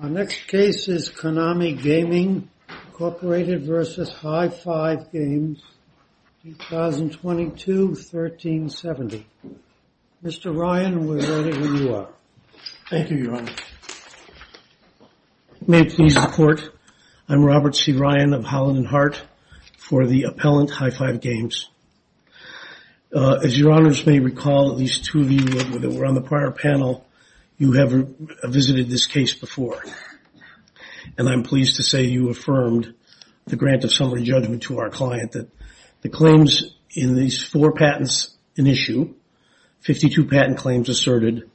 Our next case is Konami Gaming, Inc. v. High 5 Games, 2022-1370. Mr. Ryan, we're ready when you are. Thank you, Your Honor. May it please the Court, I'm Robert C. Ryan of Holland & Hart for the appellant, High 5 Games. As Your Honors may recall, at least two of you that were on the prior panel, you have visited this case before. And I'm pleased to say you affirmed the grant of summary judgment to our client that the claims in these four patents in issue, 52 patent claims asserted,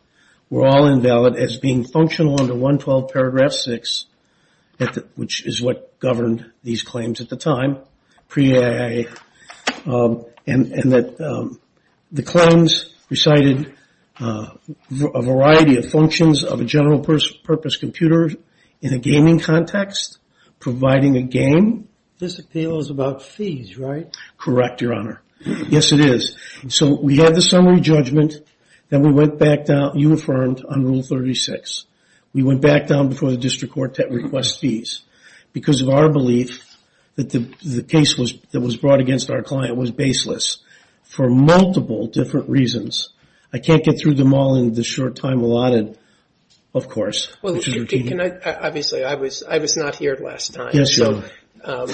were all invalid as being functional under 112 paragraph 6, which is what governed these claims at the time, pre-AAA. And that the claims recited a variety of functions of a general purpose computer in a gaming context, providing a game. This appeal is about fees, right? Correct, Your Honor. Yes, it is. So we had the summary judgment, then we went back down, unaffirmed on Rule 36. We went back down before the district court to request fees. Because of our belief that the case that was brought against our client was baseless for multiple different reasons. I can't get through them all in the short time allotted, of course. Well, obviously I was not here last time. Yes, Your Honor.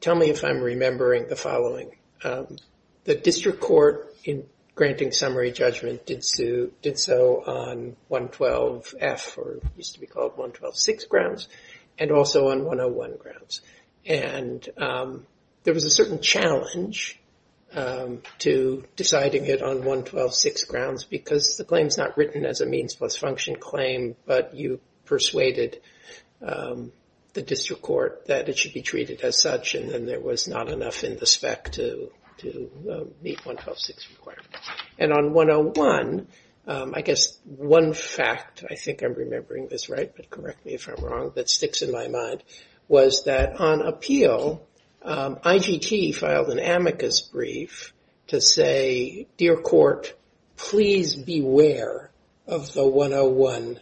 Tell me if I'm remembering the following. The district court in granting summary judgment did so on 112F, or it used to be called 1126 grounds, and also on 101 grounds. And there was a certain challenge to deciding it on 1126 grounds because the claim's not written as a means plus function claim, but you persuaded the district court that it should be treated as such, and then there was not enough in the spec to meet 1126 requirements. And on 101, I guess one fact, I think I'm remembering this right, but correct me if I'm wrong, that sticks in my mind, was that on appeal, IGT filed an amicus brief to say, Dear Court, please beware of the 101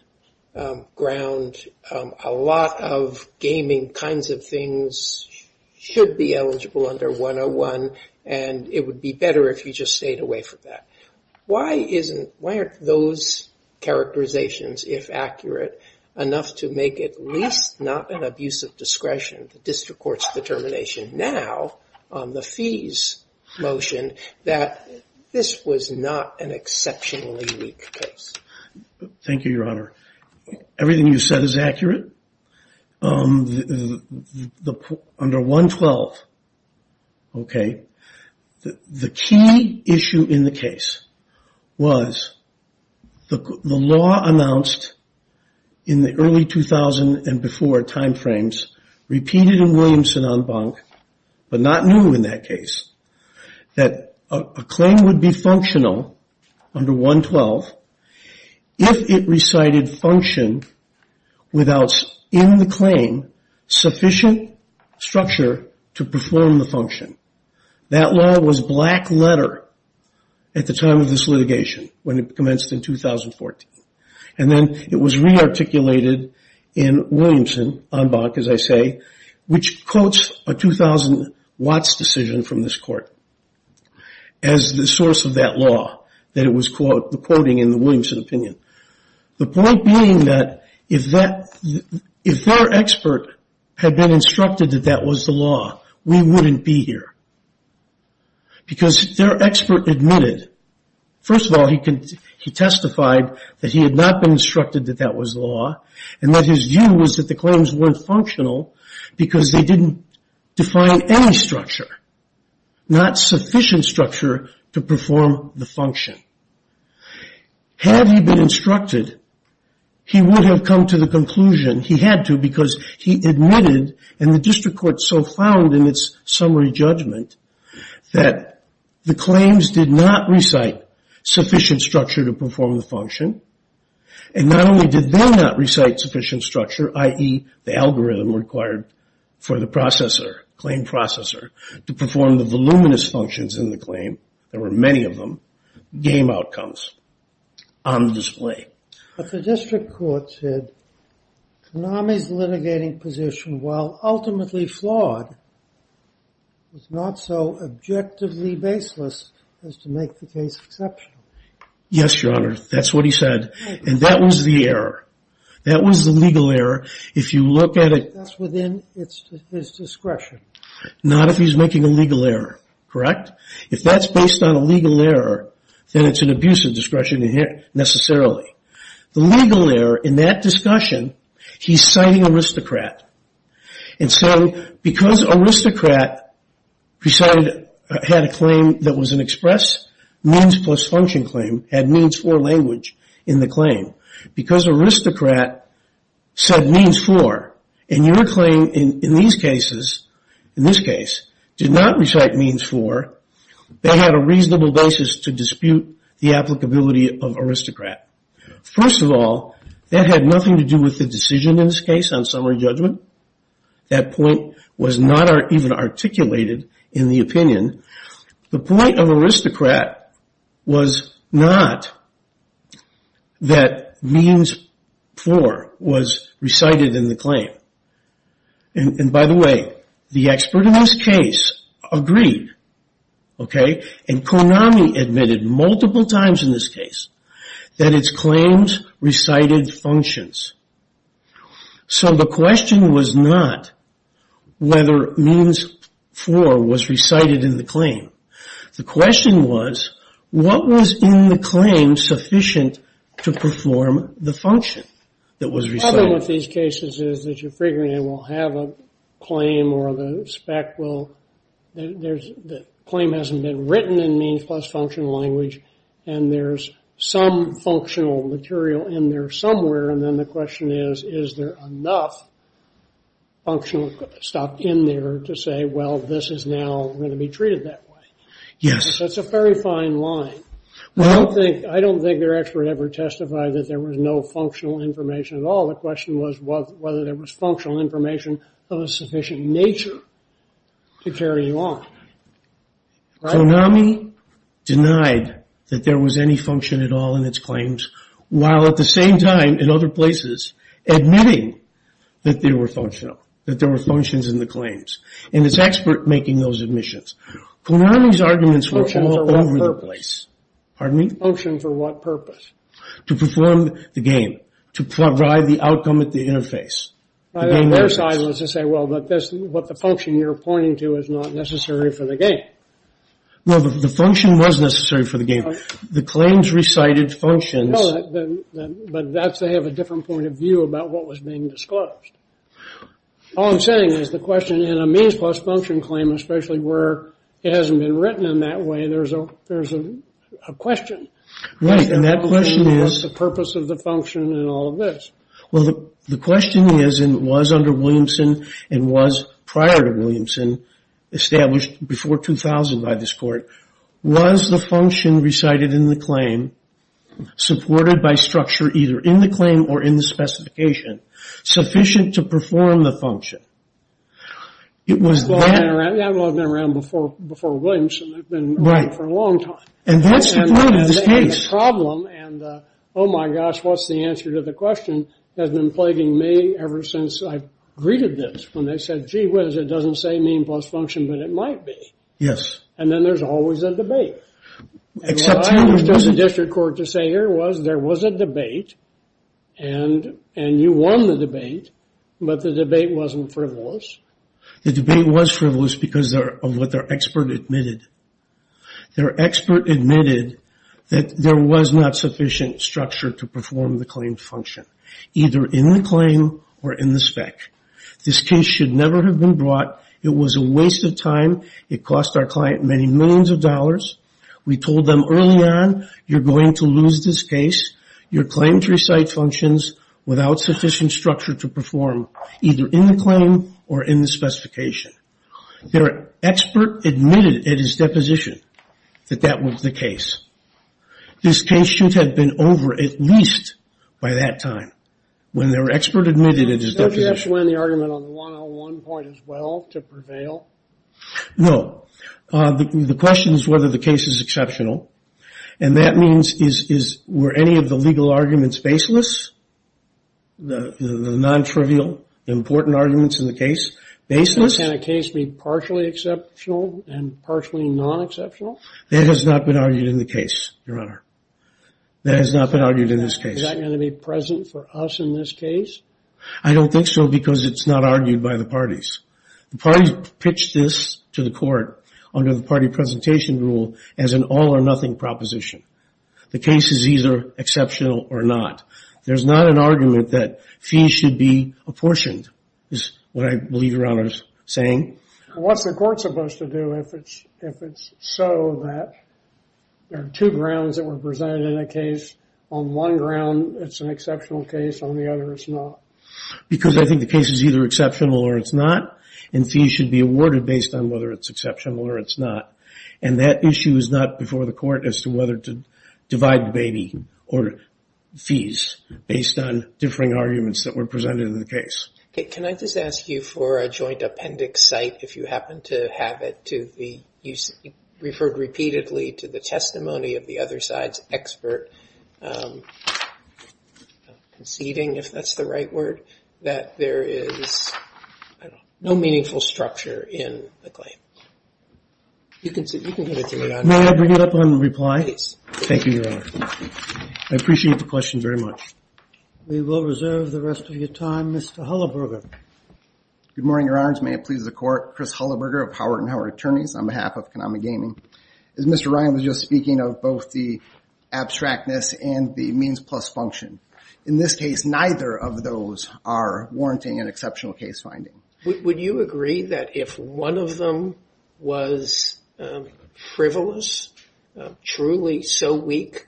ground. A lot of gaming kinds of things should be eligible under 101, and it would be better if you just stayed away from that. Why aren't those characterizations, if accurate, enough to make it at least not an abuse of discretion, the district court's determination now on the fees motion, that this was not an exceptionally weak case? Everything you said is accurate. Under 112, okay, the key issue in the case was the law announced in the early 2000 and before time frames, repeated in Williamson en banc, but not new in that case, that a claim would be functional under 112 if it recited function without, in the claim, sufficient structure to perform the function. That law was black letter at the time of this litigation, when it commenced in 2014. And then it was re-articulated in Williamson en banc, as I say, which quotes a 2000 Watts decision from this court. As the source of that law, that it was the quoting in the Williamson opinion. The point being that if their expert had been instructed that that was the law, we wouldn't be here, because their expert admitted. First of all, he testified that he had not been instructed that that was the law, and that his view was that the claims weren't functional because they didn't define any structure, not sufficient structure to perform the function. Had he been instructed, he would have come to the conclusion, he had to, because he admitted, and the district court so found in its summary judgment, that the claims did not recite sufficient structure to perform the function. And not only did they not recite sufficient structure, i.e., the algorithm required for the claim processor to perform the voluminous functions in the claim, there were many of them, game outcomes on display. But the district court said, Konami's litigating position, while ultimately flawed, was not so objectively baseless as to make the case exceptional. Yes, your honor, that's what he said, and that was the error. If you look at it- That's within his discretion. Not if he's making a legal error, correct? If that's based on a legal error, then it's an abuse of discretion necessarily. The legal error in that discussion, he's citing aristocrat. And so, because aristocrat had a claim that was an express, means plus function claim, had means for language in the claim. Because aristocrat said means for, and your claim in these cases, in this case, did not recite means for, they had a reasonable basis to dispute the applicability of aristocrat. First of all, that had nothing to do with the decision in this case on summary judgment, that point was not even articulated in the opinion. The point of aristocrat was not that means for was recited in the claim. And by the way, the expert in this case agreed, okay? And Konami admitted multiple times in this case that its claims recited functions. So the question was not whether means for was recited in the claim. The question was, what was in the claim sufficient to perform the function? That was recited. The problem with these cases is that you're figuring they will have a claim or the spec will, the claim hasn't been written in means plus function language. And there's some functional material in there somewhere, and then the question is, is there enough functional stuff in there to say, well, this is now going to be treated that way. Yes. That's a very fine line. Well, I don't think their expert ever testified that there was no functional information at all. The question was whether there was functional information of a sufficient nature to carry on, right? Konami denied that there was any function at all in its claims. While at the same time, in other places, admitting that they were functional. That there were functions in the claims. And its expert making those admissions. Konami's arguments were all over the place. Pardon me? Function for what purpose? To perform the game. To provide the outcome at the interface. Their side was to say, well, but that's what the function you're pointing to is not necessary for the game. Well, the function was necessary for the game. The claims recited functions. No, but that's, they have a different point of view about what was being disclosed. All I'm saying is the question in a means plus function claim, especially where it hasn't been written in that way, there's a question. Right, and that question is. What's the purpose of the function in all of this? Well, the question is, and it was under Williamson, and was prior to Williamson, established before 2000 by this court. Was the function recited in the claim, supported by structure either in the claim or in the specification, sufficient to perform the function? It was then. Well, I've been around before Williamson. I've been around for a long time. And that's the problem in this case. Problem, and oh my gosh, what's the answer to the question, has been plaguing me ever since I've greeted this. When they said, gee whiz, it doesn't say mean plus function, but it might be. Yes. And then there's always a debate. Except. And what I understood the district court to say here was, there was a debate. And you won the debate, but the debate wasn't frivolous. The debate was frivolous because of what their expert admitted. Their expert admitted that there was not sufficient structure to perform the claim function, either in the claim or in the spec. This case should never have been brought. It was a waste of time. It cost our client many millions of dollars. We told them early on, you're going to lose this case. Your claim tree site functions without sufficient structure to perform, either in the claim or in the specification. Their expert admitted at his deposition that that was the case. This case should have been over at least by that time. When their expert admitted at his deposition. Did you have to win the argument on the 101 point as well to prevail? No. The question is whether the case is exceptional. And that means, were any of the legal arguments baseless? The non-trivial, important arguments in the case, baseless? Can a case be partially exceptional and partially non-exceptional? That has not been argued in the case, your honor. That has not been argued in this case. Is that going to be present for us in this case? I don't think so, because it's not argued by the parties. The parties pitched this to the court under the party presentation rule as an all or nothing proposition. The case is either exceptional or not. There's not an argument that fees should be apportioned, is what I believe your honor is saying. What's the court supposed to do if it's so that there are two grounds that were presented in a case, on one ground it's an exceptional case, on the other it's not? Because I think the case is either exceptional or it's not, and fees should be awarded based on whether it's exceptional or it's not. And that issue is not before the court as to whether to divide the baby, or fees, based on differing arguments that were presented in the case. Okay, can I just ask you for a joint appendix cite, if you happen to have it to the, you referred repeatedly to the testimony of the other side's expert, conceding if that's the right word, that there is no meaningful structure in the claim. You can get it to me on. May I bring it up on reply? Please. Thank you, your honor. I appreciate the question very much. We will reserve the rest of your time. Mr. Hullaburger. Good morning, your honors. May it please the court. Chris Hullaburger of Howard and Howard Attorneys on behalf of Konami Gaming. As Mr. Ryan was just speaking of both the abstractness and the means plus function. In this case, neither of those are warranting an exceptional case finding. Would you agree that if one of them was frivolous, truly so weak,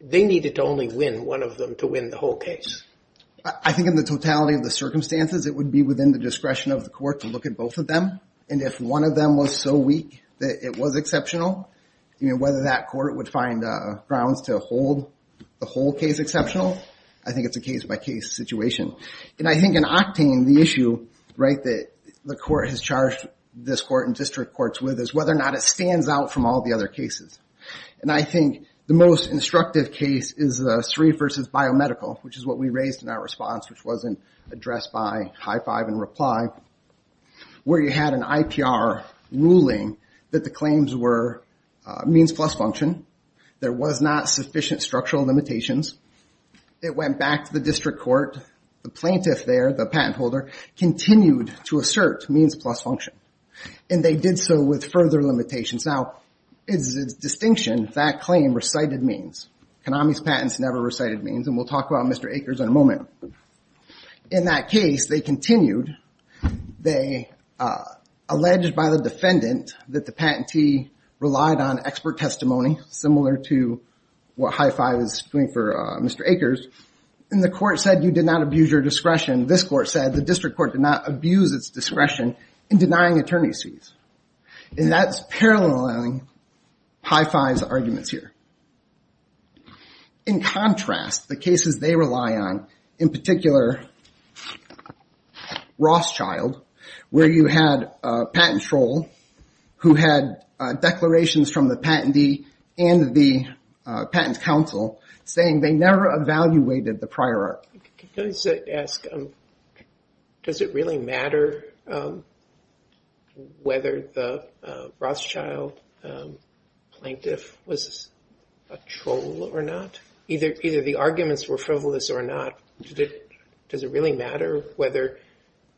they needed to only win, one of them to win the whole case? I think in the totality of the circumstances, it would be within the discretion of the court to look at both of them. And if one of them was so weak that it was exceptional, whether that court would find grounds to hold the whole case exceptional. I think it's a case by case situation. And I think in octane, the issue that the court has charged this court and district courts with is whether or not it stands out from all the other cases. And I think the most instructive case is the three versus biomedical, which is what we raised in our response, which wasn't addressed by high five and reply, where you had an IPR ruling that the claims were means plus function. There was not sufficient structural limitations. It went back to the district court. The plaintiff there, the patent holder, continued to assert means plus function. And they did so with further limitations. Now, it's a distinction that claim recited means. Konami's patents never recited means. And we'll talk about Mr. Akers in a moment. In that case, they continued. They alleged by the defendant that the patentee relied on expert testimony, similar to what HIFI was doing for Mr. Akers. And the court said you did not abuse your discretion. This court said the district court did not abuse its discretion in denying attorney's fees. And that's paralleling HIFI's arguments here. In contrast, the cases they rely on, in particular Rothschild, where you had a patent troll who had declarations from the patentee and the patent counsel saying they never evaluated the prior art. Can I just ask, does it really matter whether the Rothschild plaintiff was a troll or not? Either the arguments were frivolous or not, does it really matter whether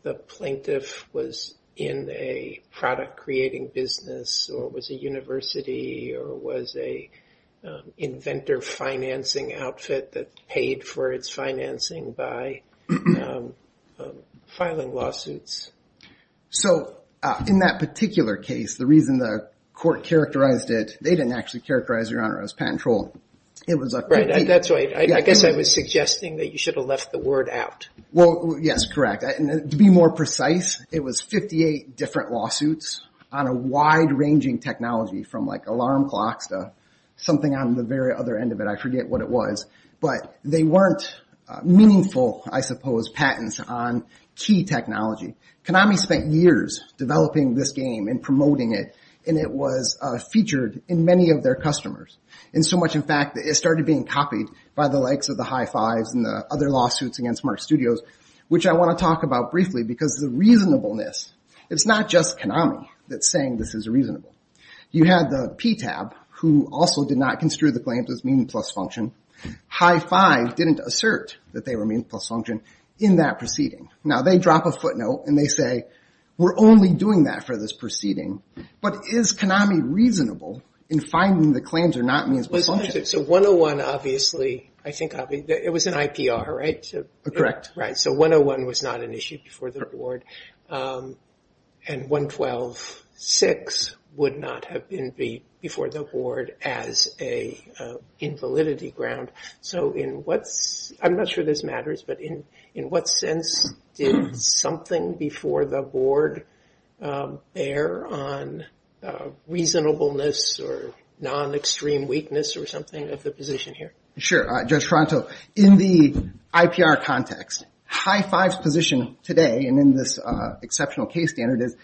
the plaintiff was in a product-creating business, or was a university, or was a inventor financing outfit that paid for its financing by filing lawsuits? So in that particular case, the reason the court characterized it, they didn't actually characterize your honor as a patent troll. It was a- Right, that's right. I guess I was suggesting that you should have left the word out. Well, yes, correct. To be more precise, it was 58 different lawsuits on a wide-ranging technology from like alarm clocks to something on the very other end of it. I forget what it was. But they weren't meaningful, I suppose, patents on key technology. Konami spent years developing this game and promoting it. And it was featured in many of their customers. And so much, in fact, it started being copied by the likes of the HIFIs and the other lawsuits against Mark Studios, which I want to talk about briefly, because the reasonableness. It's not just Konami that's saying this is reasonable. You had the PTAB, who also did not consider the claims as mean plus function. HIFI didn't assert that they were mean plus function in that proceeding. Now, they drop a footnote, and they say, we're only doing that for this proceeding. But is Konami reasonable in finding the claims are not means plus function? So 101, obviously, I think it was an IPR, right? Correct. So 101 was not an issue before the board. And 112.6 would not have been before the board as a invalidity ground. So I'm not sure this matters, but in what sense did something before the board bear on reasonableness or non-extreme weakness or something of the position here? Sure. Judge Toronto, in the IPR context, HIFI's position today and in this exceptional case standard is,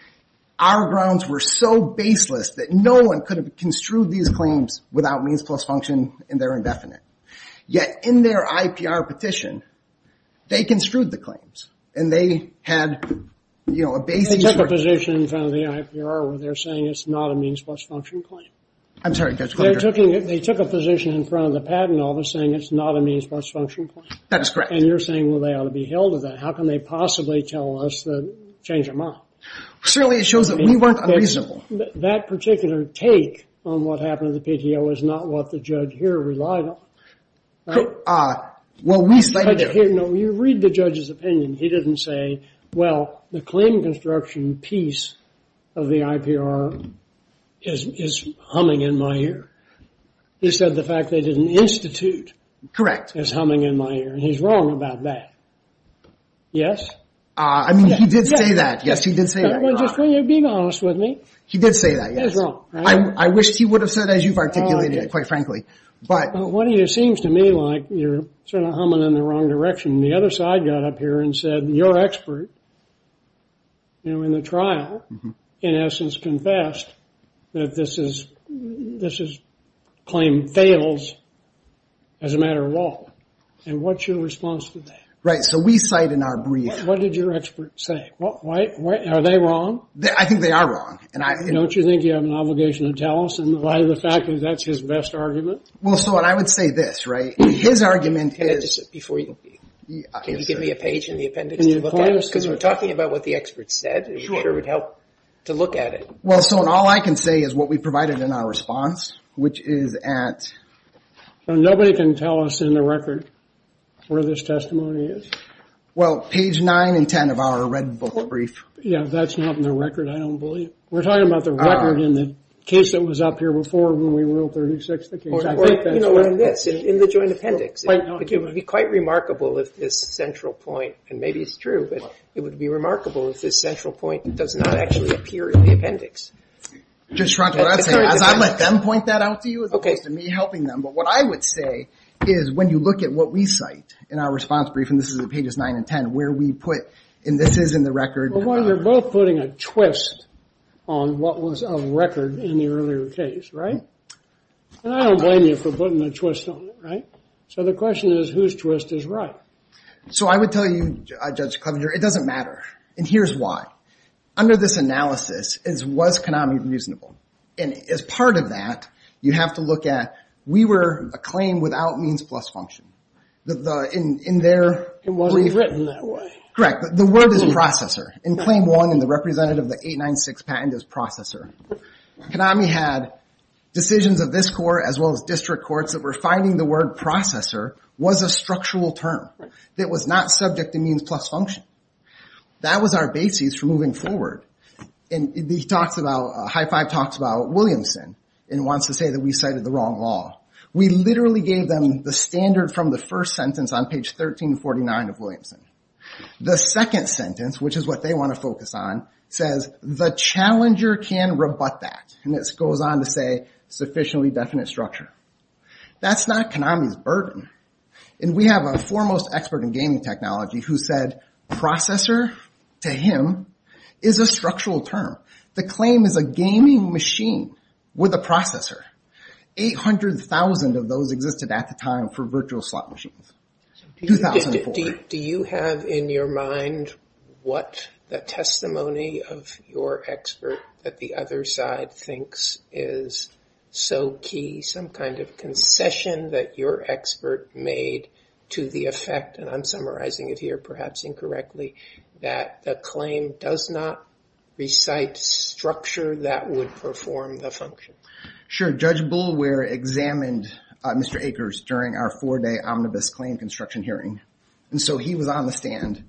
our grounds were so baseless that no one could have construed these claims without means plus function, and they're indefinite. Yet, in their IPR petition, they construed the claims. And they had a basing. They took a position in front of the IPR where they're saying it's not a means plus function claim. I'm sorry, Judge. They took a position in front of the patent office saying it's not a means plus function claim. That's correct. And you're saying, well, they ought to be held to that. How can they possibly tell us to change their mind? Surely it shows that we weren't unreasonable. That particular take on what happened in the PTO is not what the judge here relied on. Well, we stated it. No, you read the judge's opinion. He didn't say, well, the claim construction piece of the IPR is humming in my ear. He said the fact they didn't institute is humming in my ear. And he's wrong about that. Yes? I mean, he did say that. Yes, he did say that. Just being honest with me. He did say that, yes. I wish he would have said as you've articulated it, quite frankly. Well, it seems to me like you're sort of humming in the wrong direction. The other side got up here and said, your expert in the trial, in essence, has confessed that this claim fails as a matter of law. And what's your response to that? Right, so we cite in our brief. What did your expert say? Are they wrong? I think they are wrong. Don't you think you have an obligation to tell us in light of the fact that that's his best argument? Well, so what I would say this, right, his argument is, before you give me a page in the appendix to look at, because we're talking about what the expert said. It would help to look at it. Well, so all I can say is what we provided in our response, which is at. Nobody can tell us in the record where this testimony is. Well, page 9 and 10 of our red book brief. Yeah, that's not in the record, I don't believe. We're talking about the record in the case that was up here before when we ruled 36 the case. I think that's right. In the joint appendix, it would be quite remarkable if this central point, and maybe it's true, but it would be remarkable if this central point does not actually appear in the appendix. Judge Frantz, as I let them point that out to you, as opposed to me helping them, but what I would say is when you look at what we cite in our response brief, and this is at pages 9 and 10, where we put, and this is in the record. Well, you're both putting a twist on what was a record in the earlier case, right? And I don't blame you for putting a twist on it, right? So the question is, whose twist is right? So I would tell you, Judge Clevenger, it doesn't matter. And here's why. Under this analysis, was Konami reasonable? And as part of that, you have to look at, we were a claim without means plus function. In their brief. It wasn't written that way. Correct, but the word is processor. In claim one, in the representative of the 896 patent is processor. Konami had decisions of this court as well as district courts that were finding the word processor was a structural term that was not subject to means plus function. That was our basis for moving forward. And he talks about, High Five talks about Williamson and wants to say that we cited the wrong law. We literally gave them the standard from the first sentence on page 1349 of Williamson. The second sentence, which is what they wanna focus on, says the challenger can rebut that. And it goes on to say sufficiently definite structure. That's not Konami's burden. And we have a foremost expert in gaming technology who said processor, to him, is a structural term. The claim is a gaming machine with a processor. 800,000 of those existed at the time for virtual slot machines, 2004. Do you have in your mind what the testimony of your expert that the other side thinks is so key, some kind of concession that your expert made to the effect, and I'm summarizing it here, perhaps incorrectly, that the claim does not recite structure that would perform the function? Sure, Judge Boulware examined Mr. Akers during our four-day omnibus claim construction hearing. And so he was on the stand,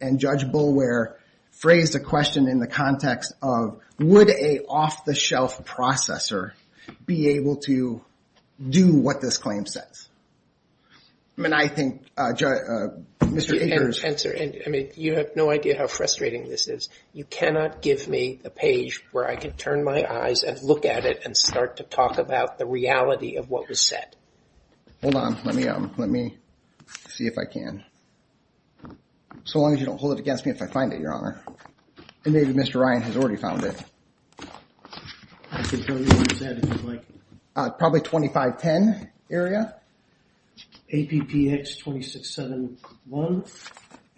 and Judge Boulware phrased a question in the context of would a off-the-shelf processor be able to do what this claim says? I mean, I think, Mr. Akers. Answer, I mean, you have no idea how frustrating this is. You cannot give me a page where I can turn my eyes and look at it and start to talk about the reality of what was said. Hold on, let me see if I can. So long as you don't hold it against me if I find it, Your Honor. And maybe Mr. Ryan has already found it. I can show you what it said, if you'd like. Probably 2510 area. APPX 2671,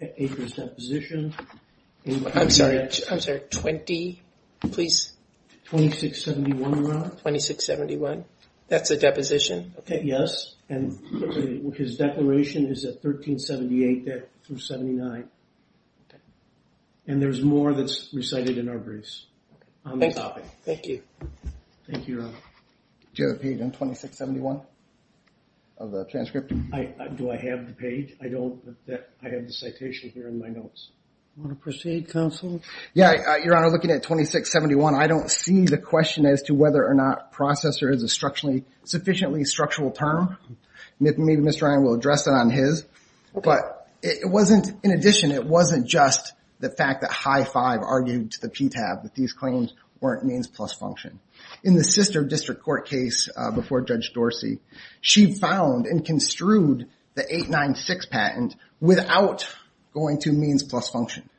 Akers' deposition. I'm sorry, I'm sorry, 20, please. 2671, Your Honor. 2671, that's a deposition? Okay, yes, and his declaration is at 1371. And there's more that's recited in our briefs. On the topic. Thank you. Thank you, Your Honor. Do you have a page on 2671 of the transcript? Do I have the page? I don't, I have the citation here in my notes. Want to proceed, counsel? Yeah, Your Honor, looking at 2671, I don't see the question as to whether or not processor is a sufficiently structural term. Maybe Mr. Ryan will address it on his. But it wasn't, in addition, it wasn't just the fact that High Five argued to the PTAB that these claims weren't means plus function. In the sister district court case before Judge Dorsey, she found and construed the 896 patent without going to means plus function.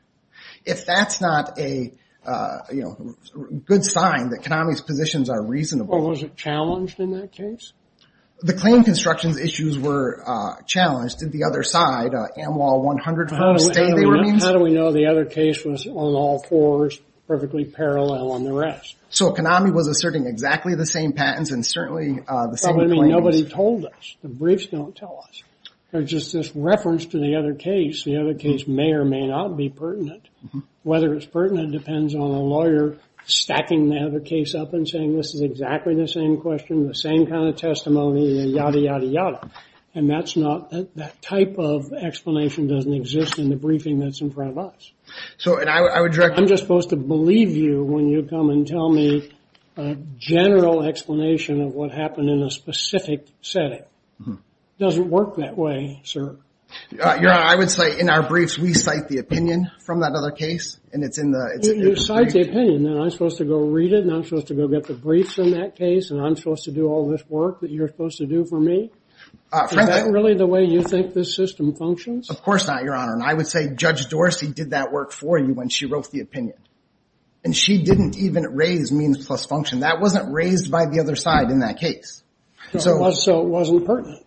If that's not a good sign that Konami's positions are reasonable. Well, was it challenged in that case? The claim construction's issues were challenged. Did the other side, Amwahl 100, understand they were means? How do we know the other case was on all fours, perfectly parallel on the rest? So Konami was asserting exactly the same patents and certainly the same claims. Nobody told us. The briefs don't tell us. They're just this reference to the other case. The other case may or may not be pertinent. Whether it's pertinent depends on a lawyer stacking the other case up and saying, this is exactly the same question, the same kind of testimony, and yada, yada, yada. And that's not, that type of explanation doesn't exist in the briefing that's in front of us. So I'm just supposed to believe you when you come and tell me a general explanation of what happened in a specific setting. Doesn't work that way, sir. Your Honor, I would say in our briefs, we cite the opinion from that other case, and it's in the brief. You cite the opinion, and I'm supposed to go read it, and I'm supposed to go get the briefs in that case, and I'm supposed to do all this work that you're supposed to do for me. Is that really the way you think this system functions? Of course not, Your Honor, and I would say Judge Dorsey did that work for you when she wrote the opinion. And she didn't even raise means plus function. That wasn't raised by the other side in that case. So it wasn't pertinent.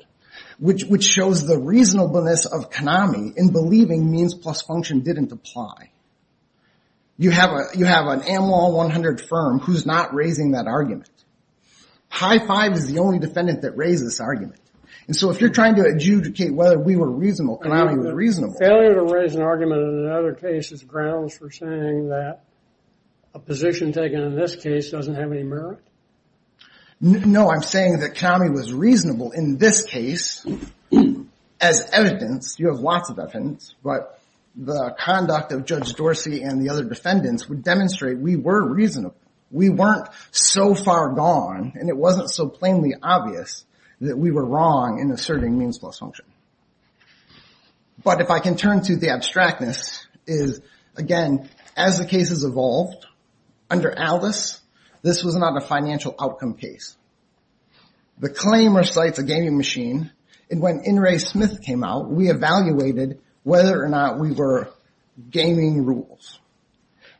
Which shows the reasonableness of Konami in believing means plus function didn't apply. You have an Amlaw 100 firm who's not raising that argument. PI-5 is the only defendant that raised this argument. And so if you're trying to adjudicate whether we were reasonable, Konami was reasonable. Failure to raise an argument in another case is grounds for saying that a position taken in this case doesn't have any merit? No, I'm saying that Konami was reasonable in this case. As evidence, you have lots of evidence, but the conduct of Judge Dorsey and the other defendants would demonstrate we were reasonable. We weren't so far gone, and it wasn't so plainly obvious that we were wrong in asserting means plus function. But if I can turn to the abstractness, is again, as the cases evolved, under Aldis, this was not a financial outcome case. The claim recites a gaming machine, and when In re Smith came out, we evaluated whether or not we were gaming rules.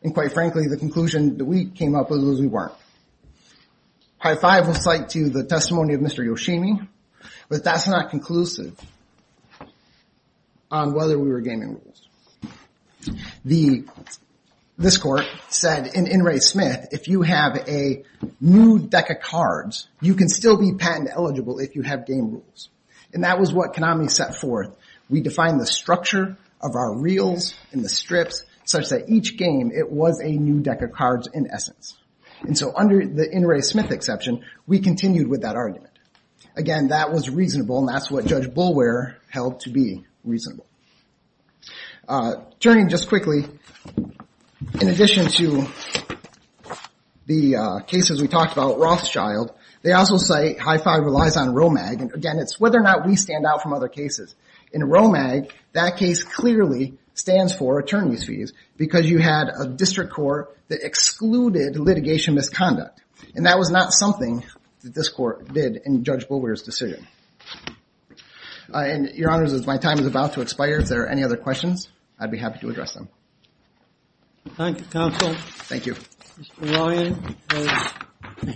And quite frankly, the conclusion that we came up with was we weren't. PI-5 will cite to you the testimony of Mr. Yoshimi, but that's not conclusive on whether we were gaming rules. This court said in In re Smith, if you have a new deck of cards, you can still be patent eligible if you have game rules. And that was what Konami set forth. We define the structure of our reels and the strips such that each game, it was a new deck of cards in essence. And so under the In re Smith exception, we continued with that argument. Again, that was reasonable, and that's what Judge Boulware held to be reasonable. Turning just quickly, in addition to the cases we talked about, Rothschild, they also cite PI-5 relies on ROMAG, and again, it's whether or not we stand out from other cases. In ROMAG, that case clearly stands for attorneys' fees because you had a district court that excluded litigation misconduct. And that was not something that this court did in Judge Boulware's decision. And your honors, as my time is about to expire, if there are any other questions, I'd be happy to address them. Thank you, counsel. Thank you. Mr. Ryan,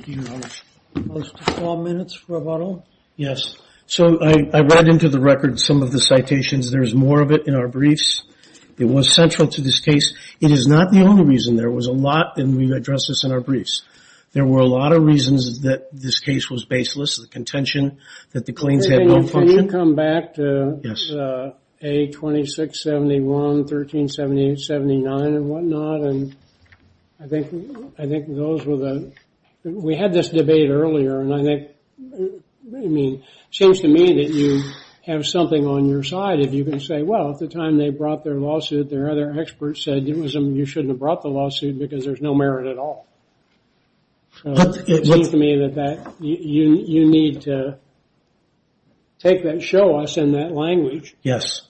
you have close to four minutes for rebuttal. Yes. So I read into the record some of the citations. There's more of it in our briefs. It was central to this case. It is not the only reason. There was a lot, and we've addressed this in our briefs. There were a lot of reasons that this case was baseless, the contention that the claims had no function. Can you come back to A2671, 1378, 79, and whatnot? And I think those were the, we had this debate earlier, and I think, I mean, it seems to me that you have something on your side, if you can say, well, at the time they brought their lawsuit, their other experts said it was, you shouldn't have brought the lawsuit because there's no merit at all. So it seems to me that you need to take that, show us in that language. Yes.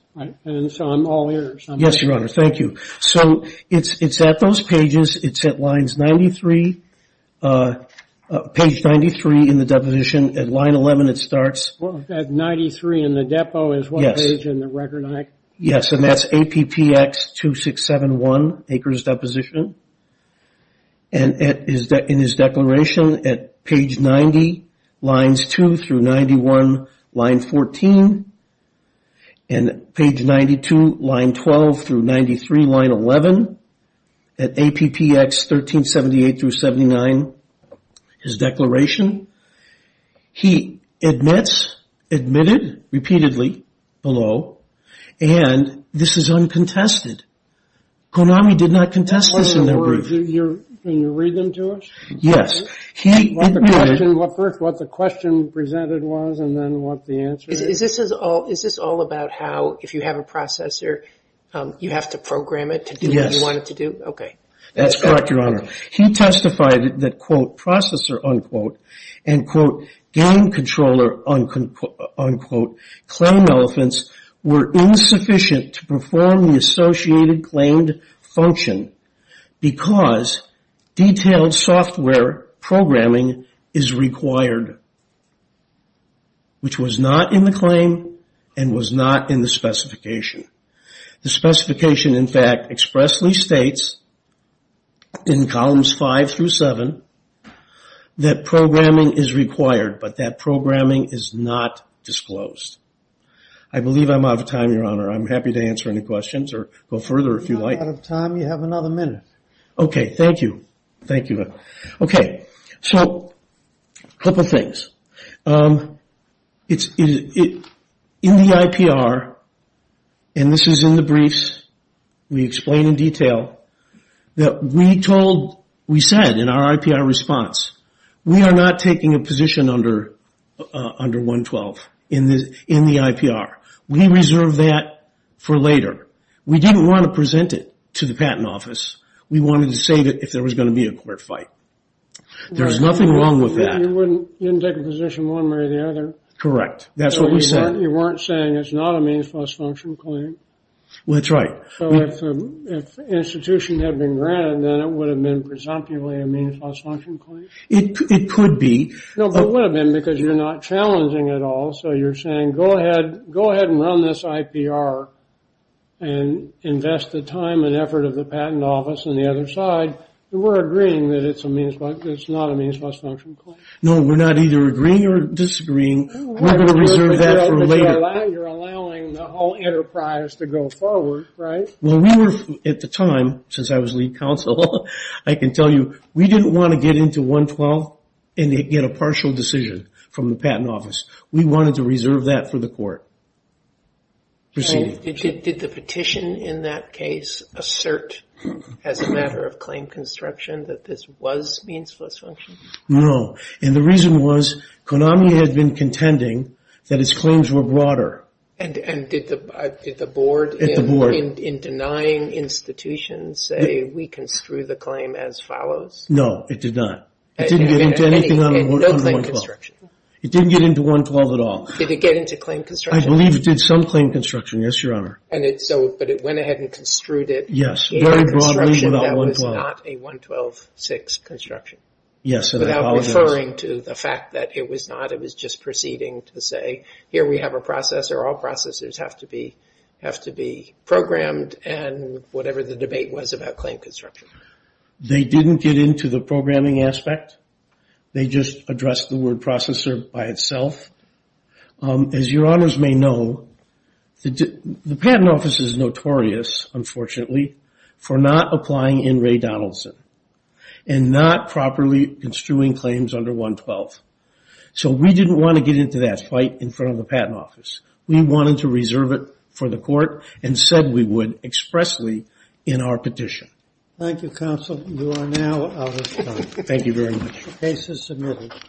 And so I'm all ears. Yes, your honor, thank you. So it's at those pages. It's at lines 93, page 93 in the deposition, at line 11 it starts. What was that, 93 in the depo is what page in the record? Yes, and that's APPX 2671, Acres Deposition. And in his declaration, at page 90, lines two through 91, line 14. And page 92, line 12 through 93, line 11. At APPX 1378 through 79, his declaration. He admits, admitted repeatedly below, and this is uncontested. Konami did not contest this in their brief. Can you read them to us? Yes. First, what the question presented was, and then what the answer is. Is this all about how, if you have a processor, you have to program it to do what you want it to do? Yes. Okay. That's correct, your honor. He testified that, quote, processor, unquote, and, quote, game controller, unquote, claim elephants were insufficient to perform the associated claimed function because detailed software programming is required, which was not in the claim and was not in the specification. The specification, in fact, expressly states in columns five through seven that programming is required, but that programming is not disclosed. I believe I'm out of time, your honor. I'm happy to answer any questions or go further if you'd like. You're not out of time, you have another minute. Okay, thank you. Thank you. Okay. So, couple things. In the IPR, and this is in the briefs, we explain in detail that we told, we said in our IPR response, we are not taking a position under 112 in the IPR. We reserve that for later. We didn't want to present it to the patent office. We wanted to save it if there was gonna be a court fight. There's nothing wrong with that. You wouldn't take a position one way or the other. Correct. That's what we said. You weren't saying it's not a means-plus-function claim. Well, that's right. So, if the institution had been granted, then it would have been presumptively a means-plus-function claim? It could be. No, but it would have been because you're not challenging at all. So, you're saying, go ahead and run this IPR and invest the time and effort of the patent office on the other side. We're agreeing that it's not a means-plus-function claim. No, we're not either agreeing or disagreeing. We're gonna reserve that for later. You're allowing the whole enterprise to go forward, right? Well, we were, at the time, since I was lead counsel, I can tell you, we didn't want to get into 112 and get a partial decision from the patent office. We wanted to reserve that for the court. Proceed. Did the petition in that case assert, as a matter of claim construction, that this was means-plus-function? No, and the reason was, Konami had been contending that its claims were broader. And did the board, in denying institutions, say, we can screw the claim as follows? No, it did not. It didn't get into anything on the 112. It didn't get into 112 at all. Did it get into claim construction? I believe it did some claim construction. Yes, Your Honor. And it, so, but it went ahead and construed it in a construction that was not a 112-6 construction. Yes, and I apologize. Without referring to the fact that it was not, it was just proceeding to say, here we have a processor, all processors have to be, have to be programmed, and whatever the debate was about claim construction. They didn't get into the programming aspect. They just addressed the word processor by itself. As Your Honors may know, the Patent Office is notorious, unfortunately, for not applying in Ray Donaldson, and not properly construing claims under 112. So we didn't want to get into that fight in front of the Patent Office. We wanted to reserve it for the court, and said we would expressly in our petition. Thank you, Counsel. You are now out of time. Thank you very much. The case is submitted.